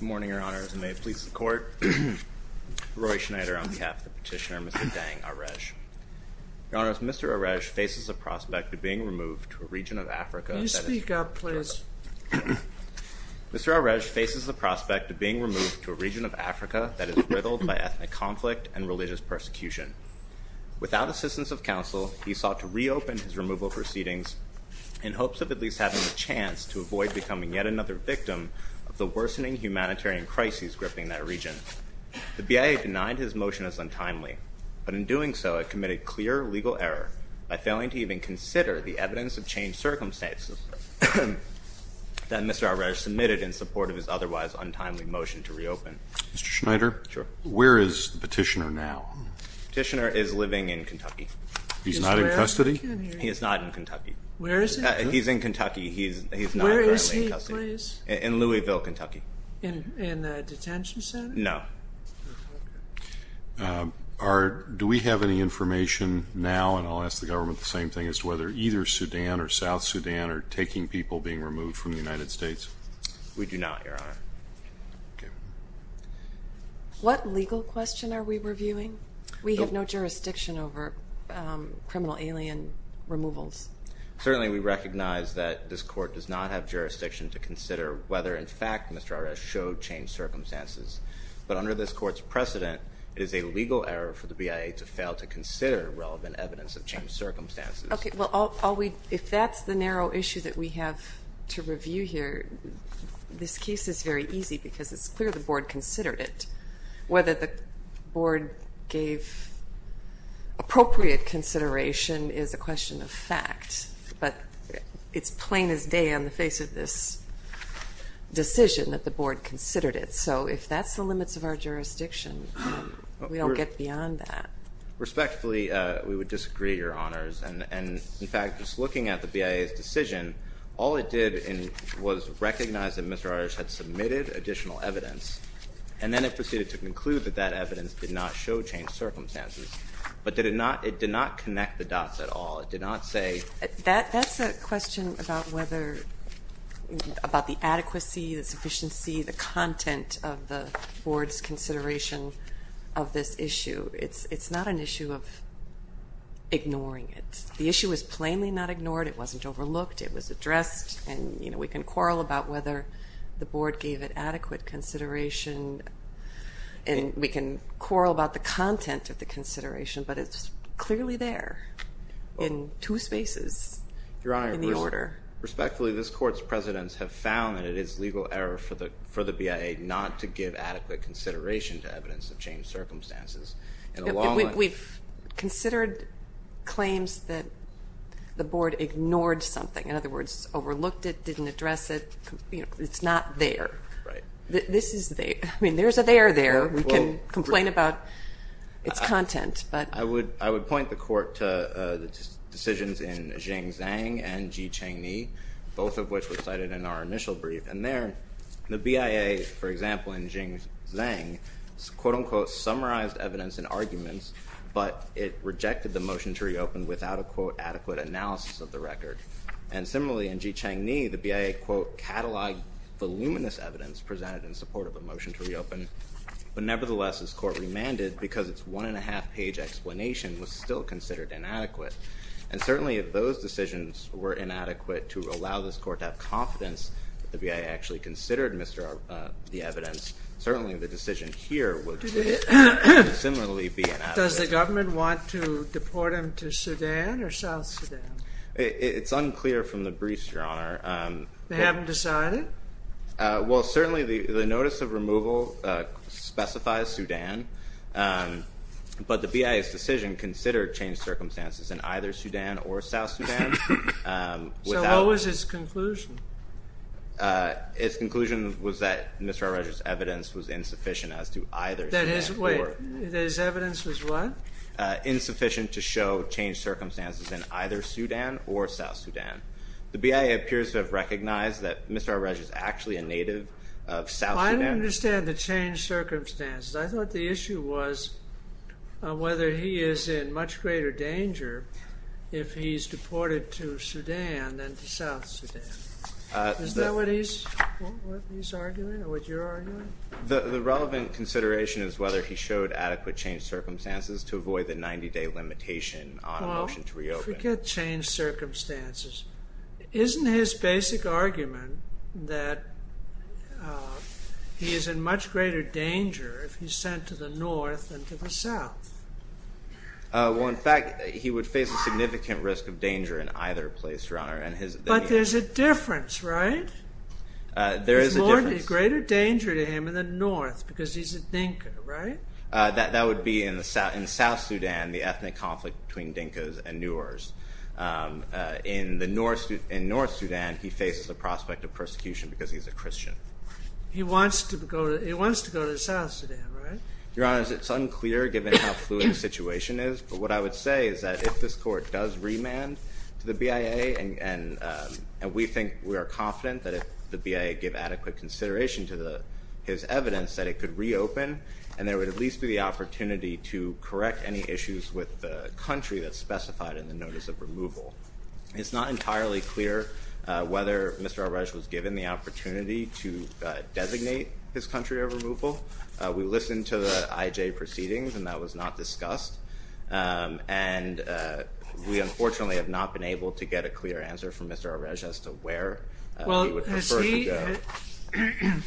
Good morning, Your Honors, and may it please the Court, Roy Schneider on behalf of the petitioner, Mr. Deng Arej. Your Honors, Mr. Arej faces the prospect of being removed to a region of Africa that is riddled by ethnic conflict and religious persecution. Without assistance of counsel, he sought to reopen his removal proceedings in hopes of at least having a chance to avoid becoming yet another victim of the worsening humanitarian crises gripping that region. The BIA denied his motion as untimely, but in doing so, it committed clear legal error by failing to even consider the evidence of changed circumstances that Mr. Arej submitted in support of his otherwise untimely motion to reopen. Mr. Schneider, where is the petitioner now? The petitioner is living in Kentucky. He's not in custody? He is not in Kentucky. Where is he? He's in Kentucky. He's not currently in custody. Where is he, please? In Louisville, Kentucky. In a detention center? No. Do we have any information now, and I'll ask the government the same thing, as to whether either Sudan or South Sudan are taking people being removed from the United States? We do not, Your Honor. Okay. What legal question are we reviewing? We have no jurisdiction over criminal alien removals. Certainly we recognize that this court does not have jurisdiction to consider whether, in fact, Mr. Arej showed changed circumstances. But under this court's precedent, it is a legal error for the BIA to fail to consider relevant evidence of changed circumstances. Okay. Well, if that's the narrow issue that we have to review here, this case is very easy because it's clear the board considered it. Whether the board gave appropriate consideration is a question of fact. But it's plain as day on the face of this decision that the board considered it. So if that's the limits of our jurisdiction, we don't get beyond that. Respectfully, we would disagree, Your Honors. And, in fact, just looking at the BIA's decision, all it did was recognize that Mr. Arej had submitted additional evidence, and then it proceeded to conclude that that evidence did not show changed circumstances. But it did not connect the dots at all. It did not say. That's a question about whether the adequacy, the sufficiency, the content of the board's consideration of this issue. It's not an issue of ignoring it. The issue is plainly not ignored. It wasn't overlooked. It was addressed. And, you know, we can quarrel about whether the board gave it adequate consideration. And we can quarrel about the content of the consideration. But it's clearly there in two spaces in the order. Your Honor, respectfully, this court's precedents have found that it is legal error for the BIA not to give adequate consideration to evidence of changed circumstances. We've considered claims that the board ignored something. In other words, overlooked it, didn't address it. It's not there. Right. This is there. I mean, there's a there there. We can complain about its content. I would point the court to the decisions in Jing Zhang and Ji Cheng Ni, both of which were cited in our initial brief. And there, the BIA, for example, in Jing Zhang, quote, unquote, summarized evidence and arguments. But it rejected the motion to reopen without a, quote, adequate analysis of the record. And similarly, in Ji Cheng Ni, the BIA, quote, cataloged voluminous evidence presented in support of a motion to reopen. But nevertheless, this court remanded because its one and a half page explanation was still considered inadequate. And certainly, if those decisions were inadequate to allow this court to have confidence that the BIA actually considered the evidence, certainly the decision here would similarly be inadequate. Does the government want to deport him to Sudan or South Sudan? It's unclear from the briefs, Your Honor. They haven't decided? Well, certainly the notice of removal specifies Sudan. But the BIA's decision considered changed circumstances in either Sudan or South Sudan. So what was its conclusion? Its conclusion was that Mr. Al-Raj's evidence was insufficient as to either Sudan or – Wait, that his evidence was what? Insufficient to show changed circumstances in either Sudan or South Sudan. The BIA appears to have recognized that Mr. Al-Raj is actually a native of South Sudan. I don't understand the changed circumstances. I thought the issue was whether he is in much greater danger if he's deported to Sudan than to South Sudan. Is that what he's arguing or what you're arguing? The relevant consideration is whether he showed adequate changed circumstances to avoid the 90-day limitation on a motion to reopen. Well, forget changed circumstances. Isn't his basic argument that he is in much greater danger if he's sent to the north than to the south? Well, in fact, he would face a significant risk of danger in either place, Your Honor. But there's a difference, right? There is a difference. There's greater danger to him in the north because he's a Dinka, right? That would be in South Sudan, the ethnic conflict between Dinkas and Noors. In North Sudan, he faces the prospect of persecution because he's a Christian. He wants to go to South Sudan, right? Your Honor, it's unclear given how fluid the situation is. But what I would say is that if this court does remand to the BIA, and we think we are confident that if the BIA gave adequate consideration to his evidence that it could reopen and there would at least be the opportunity to correct any issues with the country that's specified in the notice of removal, it's not entirely clear whether Mr. Arej was given the opportunity to designate his country of removal. We listened to the IJ proceedings, and that was not discussed. And we, unfortunately, have not been able to get a clear answer from Mr. Arej as to where he would prefer to go.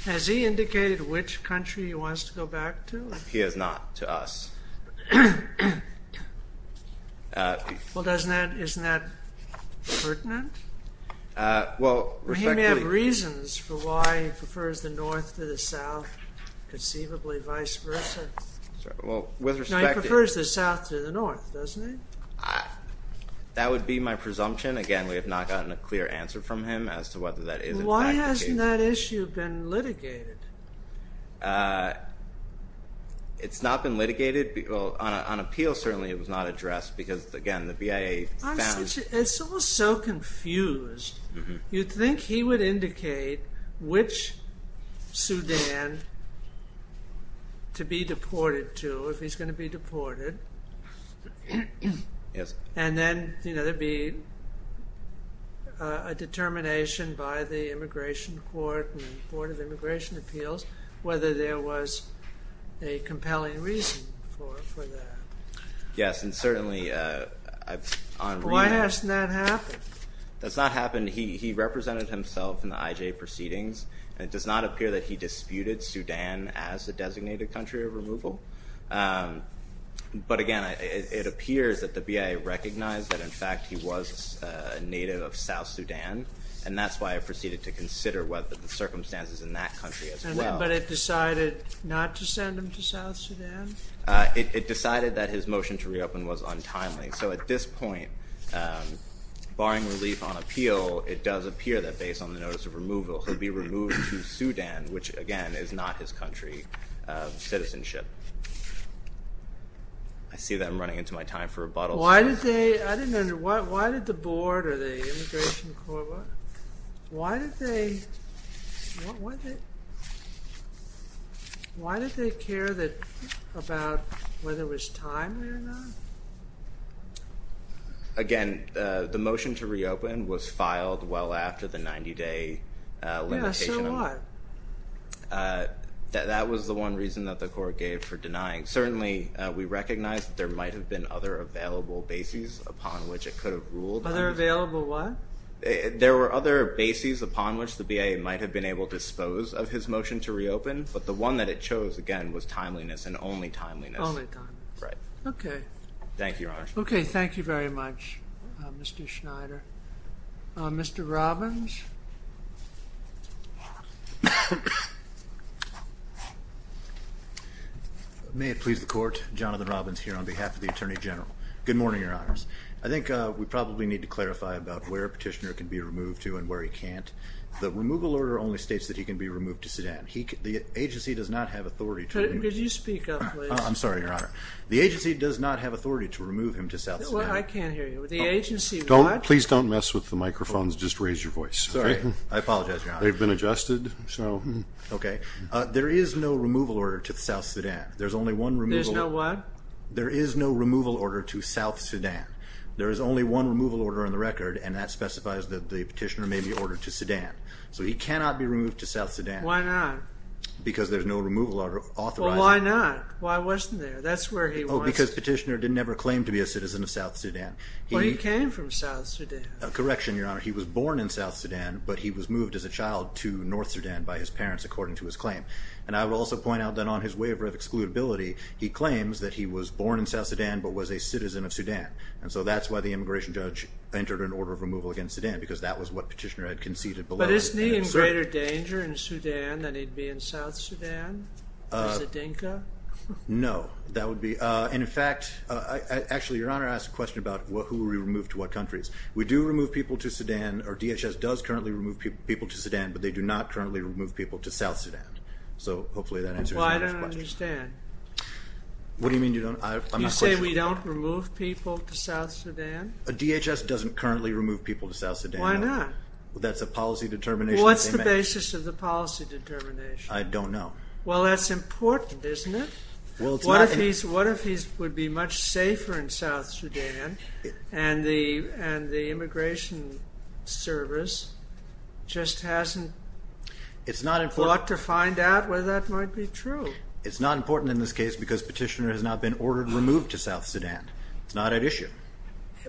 Has he indicated which country he wants to go back to? He has not, to us. Well, isn't that pertinent? He may have reasons for why he prefers the north to the south, conceivably vice versa. No, he prefers the south to the north, doesn't he? That would be my presumption. Again, we have not gotten a clear answer from him as to whether that is in fact the case. Why hasn't that issue been litigated? It's not been litigated. On appeal, certainly, it was not addressed because, again, the BIA found... It's all so confused. You'd think he would indicate which Sudan to be deported to if he's going to be deported. Yes. And then there'd be a determination by the Immigration Court and the Board of Immigration Appeals whether there was a compelling reason for that. Yes, and certainly... Why hasn't that happened? That's not happened. He represented himself in the IJ proceedings. But again, it appears that the BIA recognized that, in fact, he was a native of South Sudan, and that's why it proceeded to consider the circumstances in that country as well. But it decided not to send him to South Sudan? It decided that his motion to reopen was untimely. So at this point, barring relief on appeal, it does appear that, based on the notice of removal, he'll be removed to Sudan, which, again, is not his country of citizenship. I see that I'm running into my time for rebuttal. Why did they... I didn't understand. Why did the Board or the Immigration Court... Why did they... Why did they care about whether it was timely or not? Again, the motion to reopen was filed well after the 90-day limitation. Yeah, so what? That was the one reason that the court gave for denying. Certainly, we recognize that there might have been other available bases upon which it could have ruled. Other available what? There were other bases upon which the BIA might have been able to dispose of his motion to reopen, but the one that it chose, again, was timeliness and only timeliness. Only timeliness. Right. Okay. Thank you, Your Honor. Okay, thank you very much, Mr. Schneider. Mr. Robbins? May it please the Court, Jonathan Robbins here on behalf of the Attorney General. Good morning, Your Honors. I think we probably need to clarify about where Petitioner can be removed to and where he can't. The removal order only states that he can be removed to Sudan. The agency does not have authority to remove him. Could you speak up, please? I'm sorry, Your Honor. The agency does not have authority to remove him to South Sudan. I can't hear you. The agency, what? Please don't mess with the microphones. Just raise your voice. Sorry. I apologize, Your Honor. They've been adjusted, so. Okay. There is no removal order to South Sudan. There's only one removal. There's no what? There is no removal order to South Sudan. There is only one removal order on the record, and that specifies that the petitioner may be ordered to Sudan. So he cannot be removed to South Sudan. Why not? Because there's no removal order authorizing it. Why not? Why wasn't there? That's where he was. Oh, because Petitioner did never claim to be a citizen of South Sudan. Well, he came from South Sudan. Correction, Your Honor. He was born in South Sudan, but he was moved as a child to North Sudan by his parents, according to his claim. And I will also point out that on his waiver of excludability, he claims that he was born in South Sudan but was a citizen of Sudan. And so that's why the immigration judge entered an order of removal against Sudan, because that was what Petitioner had conceded below. But isn't he in greater danger in Sudan than he'd be in South Sudan? Or Zadinka? No. And, in fact, actually, Your Honor, I asked a question about who will be removed to what countries. We do remove people to Sudan, or DHS does currently remove people to Sudan, but they do not currently remove people to South Sudan. So hopefully that answers your question. Well, I don't understand. What do you mean you don't? You say we don't remove people to South Sudan? DHS doesn't currently remove people to South Sudan, no. Why not? That's a policy determination that they make. Well, what's the basis of the policy determination? I don't know. Well, that's important, isn't it? What if he would be much safer in South Sudan and the immigration service just hasn't thought to find out whether that might be true? It's not important in this case because Petitioner has not been ordered removed to South Sudan. It's not at issue.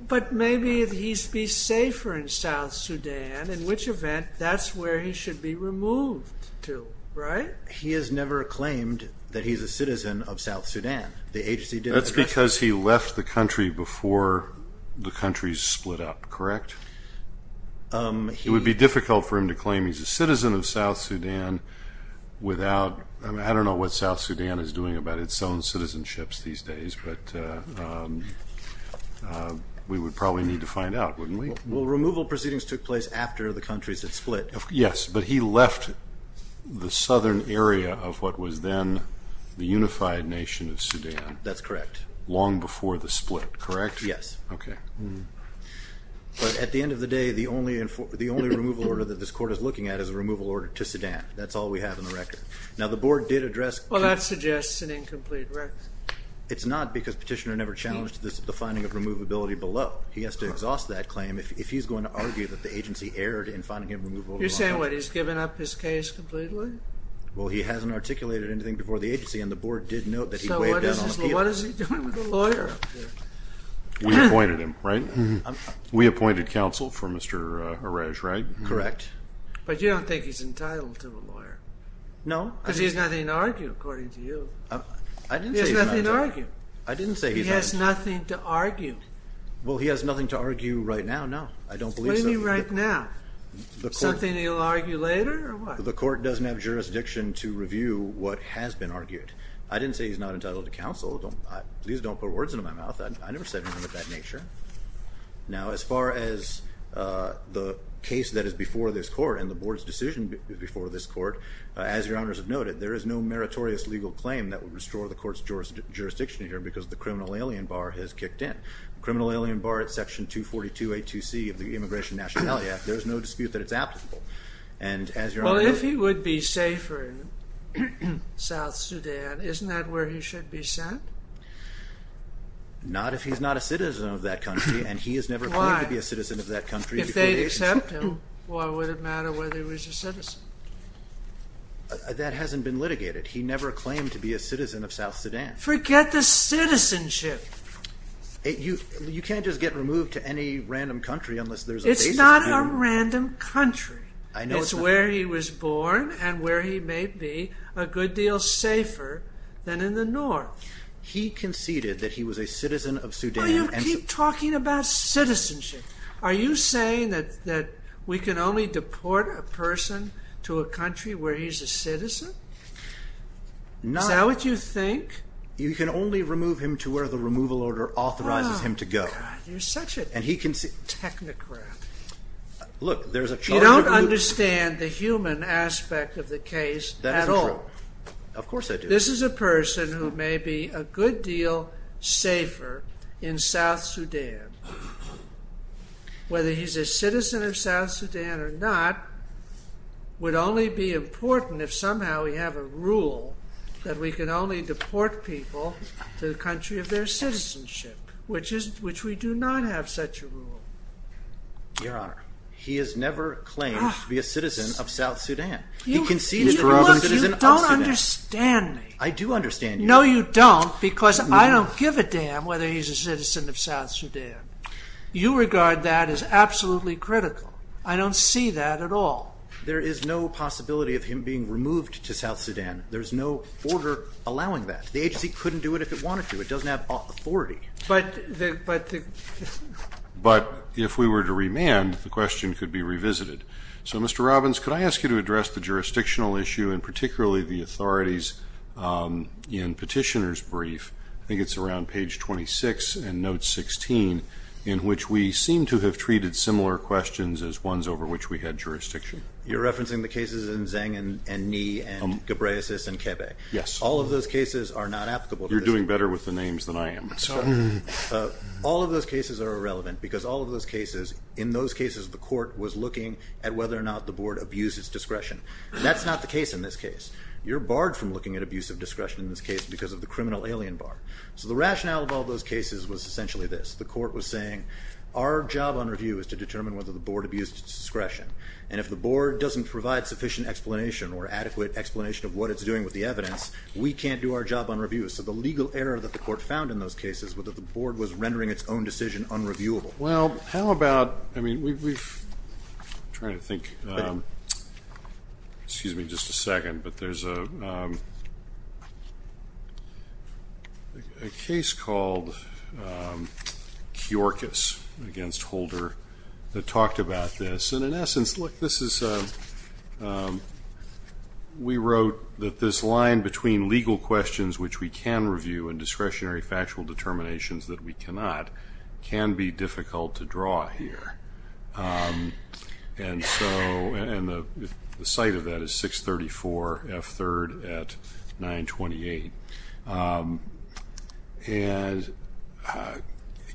But maybe he'd be safer in South Sudan. In which event, that's where he should be removed to, right? He has never claimed that he's a citizen of South Sudan. That's because he left the country before the countries split up, correct? It would be difficult for him to claim he's a citizen of South Sudan without – we would probably need to find out, wouldn't we? Well, removal proceedings took place after the countries had split. Yes, but he left the southern area of what was then the unified nation of Sudan. That's correct. Long before the split, correct? Yes. Okay. But at the end of the day, the only removal order that this Court is looking at is a removal order to Sudan. That's all we have on the record. Now, the Board did address – Well, that suggests an incomplete record. It's not because Petitioner never challenged the finding of removability below. He has to exhaust that claim if he's going to argue that the agency erred in finding a removal order on him. You're saying, what, he's given up his case completely? Well, he hasn't articulated anything before the agency, and the Board did note that he'd weighed down on appeal. So what is he doing with a lawyer? We appointed him, right? We appointed counsel for Mr. Arej, right? Correct. But you don't think he's entitled to a lawyer? No. Because he has nothing to argue, according to you. I didn't say he's not – He has nothing to argue. I didn't say he's not – He has nothing to argue. Well, he has nothing to argue right now, no. I don't believe so. Explain to me right now. Something he'll argue later, or what? The Court doesn't have jurisdiction to review what has been argued. I didn't say he's not entitled to counsel. Please don't put words into my mouth. I never said anything of that nature. Now, as far as the case that is before this Court and the Board's decision before this Court, as Your Honors have noted, there is no meritorious legal claim that would restore the Court's jurisdiction here because the criminal alien bar has kicked in. The criminal alien bar is Section 242A2C of the Immigration Nationality Act. There is no dispute that it's applicable. And as Your Honors know – Well, if he would be safer in South Sudan, isn't that where he should be sent? Not if he's not a citizen of that country, and he has never claimed to be a citizen of that country. Why? Why would it matter whether he was a citizen? That hasn't been litigated. He never claimed to be a citizen of South Sudan. Forget the citizenship. You can't just get removed to any random country unless there's a basis to it. It's not a random country. It's where he was born and where he may be a good deal safer than in the north. He conceded that he was a citizen of Sudan. Why do you keep talking about citizenship? Are you saying that we can only deport a person to a country where he's a citizen? Is that what you think? You can only remove him to where the removal order authorizes him to go. You're such a technocrat. You don't understand the human aspect of the case at all. Of course I do. This is a person who may be a good deal safer in South Sudan. Whether he's a citizen of South Sudan or not would only be important if somehow we have a rule that we can only deport people to the country of their citizenship, which we do not have such a rule. Your Honor, he has never claimed to be a citizen of South Sudan. He conceded that he was a citizen of South Sudan. You don't understand me. I do understand you. No, you don't, because I don't give a damn whether he's a citizen of South Sudan. Your regard to that is absolutely critical. I don't see that at all. There is no possibility of him being removed to South Sudan. There's no order allowing that. The agency couldn't do it if it wanted to. It doesn't have authority. But if we were to remand, the question could be revisited. So, Mr. Robbins, could I ask you to address the jurisdictional issue and particularly the authorities in Petitioner's Brief. I think it's around page 26 and note 16, in which we seem to have treated similar questions as ones over which we had jurisdiction. You're referencing the cases in Zeng and Ni and Ghebreyesus and Kebe. Yes. All of those cases are not applicable. You're doing better with the names than I am. All of those cases are irrelevant because all of those cases, in those cases the court was looking at whether or not the board abused its discretion. That's not the case in this case. You're barred from looking at abuse of discretion in this case because of the criminal alien bar. So the rationale of all those cases was essentially this. The court was saying our job on review is to determine whether the board abused its discretion. And if the board doesn't provide sufficient explanation or adequate explanation of what it's doing with the evidence, we can't do our job on review. So the legal error that the court found in those cases was that the board was rendering its own decision unreviewable. Well, how about, I mean, we've, I'm trying to think, excuse me just a second, but there's a case called Kyorkus against Holder that talked about this. And in essence, look, this is, we wrote that this line between legal questions which we can review and discretionary factual determinations that we cannot can be difficult to draw here. And so, and the site of that is 634 F3rd at 928. And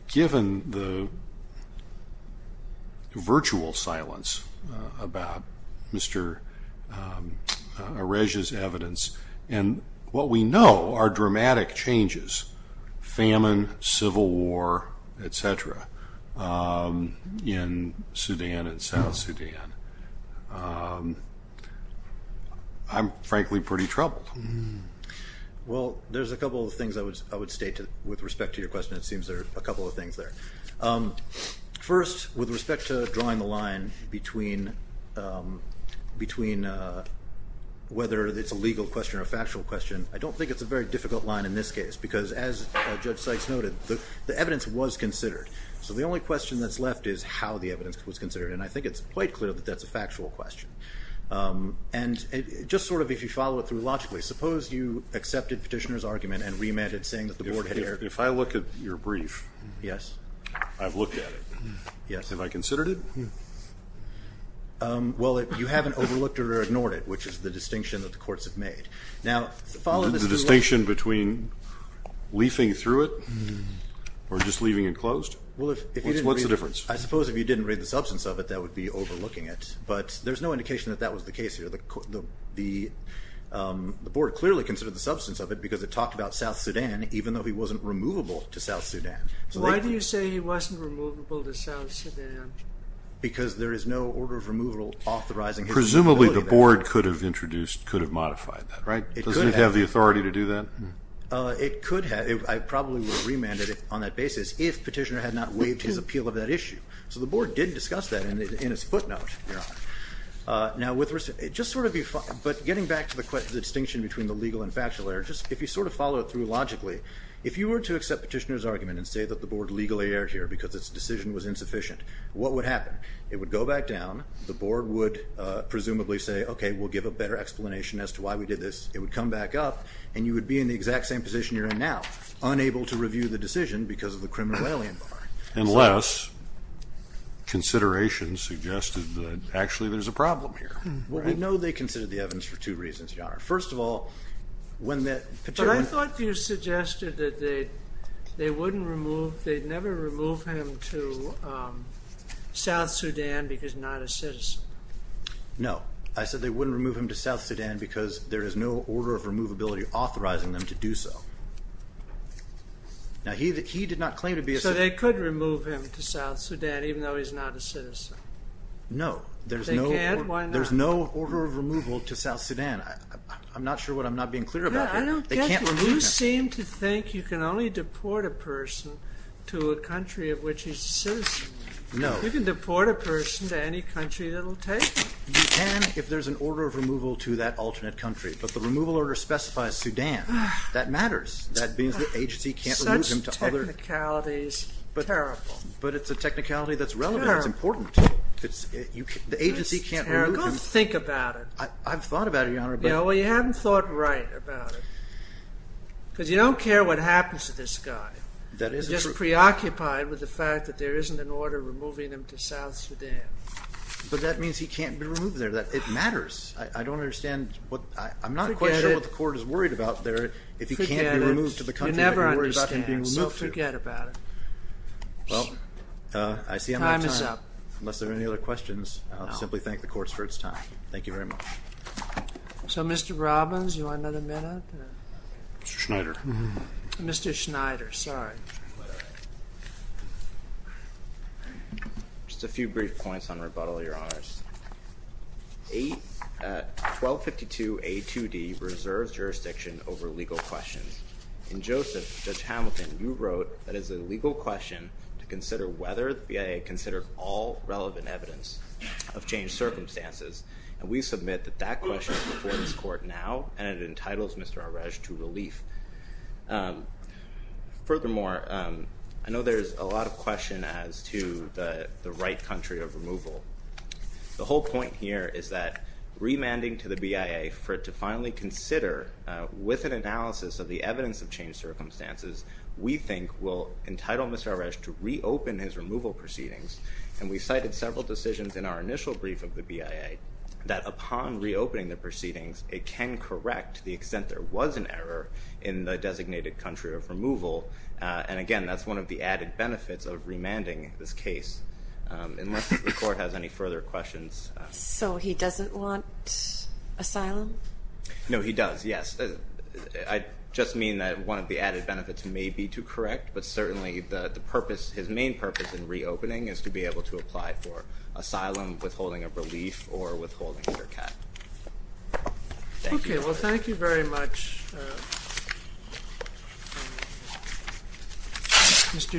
given the virtual silence about Mr. Arege's evidence, and what we know are dramatic changes, famine, civil war, et cetera, in Sudan and South Sudan, I'm frankly pretty troubled. Well, there's a couple of things I would state with respect to your question. It seems there are a couple of things there. First, with respect to drawing the line between whether it's a legal question or a factual question, I don't think it's a very difficult line in this case, because as Judge Seitz noted, the evidence was considered. So the only question that's left is how the evidence was considered, and I think it's quite clear that that's a factual question. And just sort of if you follow it through logically, suppose you accepted Petitioner's argument and remanded saying that the board had error. If I look at your brief, I've looked at it. Have I considered it? Well, you haven't overlooked it or ignored it, which is the distinction that the courts have made. The distinction between leafing through it or just leaving it closed? What's the difference? I suppose if you didn't read the substance of it, that would be overlooking it. But there's no indication that that was the case here. The board clearly considered the substance of it because it talked about South Sudan, even though he wasn't removable to South Sudan. Why do you say he wasn't removable to South Sudan? Because there is no order of removal authorizing it. Presumably the board could have introduced, could have modified that, right? It could have. Doesn't it have the authority to do that? It could have. I probably would have remanded it on that basis if Petitioner had not waived his appeal of that issue. So the board did discuss that in its footnote. Now, with respect to the distinction between the legal and factual error, if you sort of follow it through logically, if you were to accept Petitioner's argument and say that the board legally erred here because its decision was insufficient, what would happen? It would go back down. The board would presumably say, okay, we'll give a better explanation as to why we did this. It would come back up, and you would be in the exact same position you're in now, unable to review the decision because of the criminal alien bar. Unless considerations suggested that actually there's a problem here. Well, we know they considered the evidence for two reasons, Your Honor. First of all, when Petitioner But I thought you suggested that they'd never remove him to South Sudan because not a citizen. No. I said they wouldn't remove him to South Sudan because there is no order of removability authorizing them to do so. Now, he did not claim to be a citizen. So they could remove him to South Sudan even though he's not a citizen. No. They can't? Why not? There's no order of removal to South Sudan. I'm not sure what I'm not being clear about here. I don't get it. They can't remove him. You seem to think you can only deport a person to a country of which he's a citizen. No. You can deport a person to any country that will take him. You can if there's an order of removal to that alternate country. But the removal order specifies Sudan. That matters. That means the agency can't remove him to other Such technicality is terrible. But it's a technicality that's relevant. Terrible. It's important. The agency can't remove him It's terrible. Think about it. I've thought about it, Your Honor. Well, you haven't thought right about it. Because you don't care what happens to this guy. That isn't true. You're just preoccupied with the fact that there isn't an order removing him to South Sudan. But that means he can't be removed there. It matters. I don't understand. I'm not quite sure what the court is worried about there. If he can't be removed to the country that you're worried about him being removed to. Forget it. You never understand. So forget about it. Well, I see I'm out of time. Time is up. Unless there are any other questions, I'll simply thank the courts for its time. Thank you very much. So, Mr. Robbins, you want another minute? Mr. Schneider. Mr. Schneider. Sorry. Just a few brief points on rebuttal, Your Honors. 1252A2D reserves jurisdiction over legal questions. In Joseph, Judge Hamilton, you wrote that it is a legal question to consider whether the BIA considers all relevant evidence of changed circumstances. And we submit that that question is before this court now, and it entitles Mr. Arej to relief. Furthermore, I know there's a lot of question as to the right country of removal. The whole point here is that remanding to the BIA for it to finally consider, with an analysis of the evidence of changed circumstances, we think will entitle Mr. Arej to reopen his removal proceedings. And we cited several decisions in our initial brief of the BIA that upon reopening the proceedings, it can correct the extent there was an error in the designated country of removal. And, again, that's one of the added benefits of remanding this case. Unless the court has any further questions. So he doesn't want asylum? No, he does, yes. I just mean that one of the added benefits may be to correct, but certainly the purpose, his main purpose in reopening, is to be able to apply for asylum, withholding of relief, or withholding under cap. Thank you. Okay, well, thank you very much.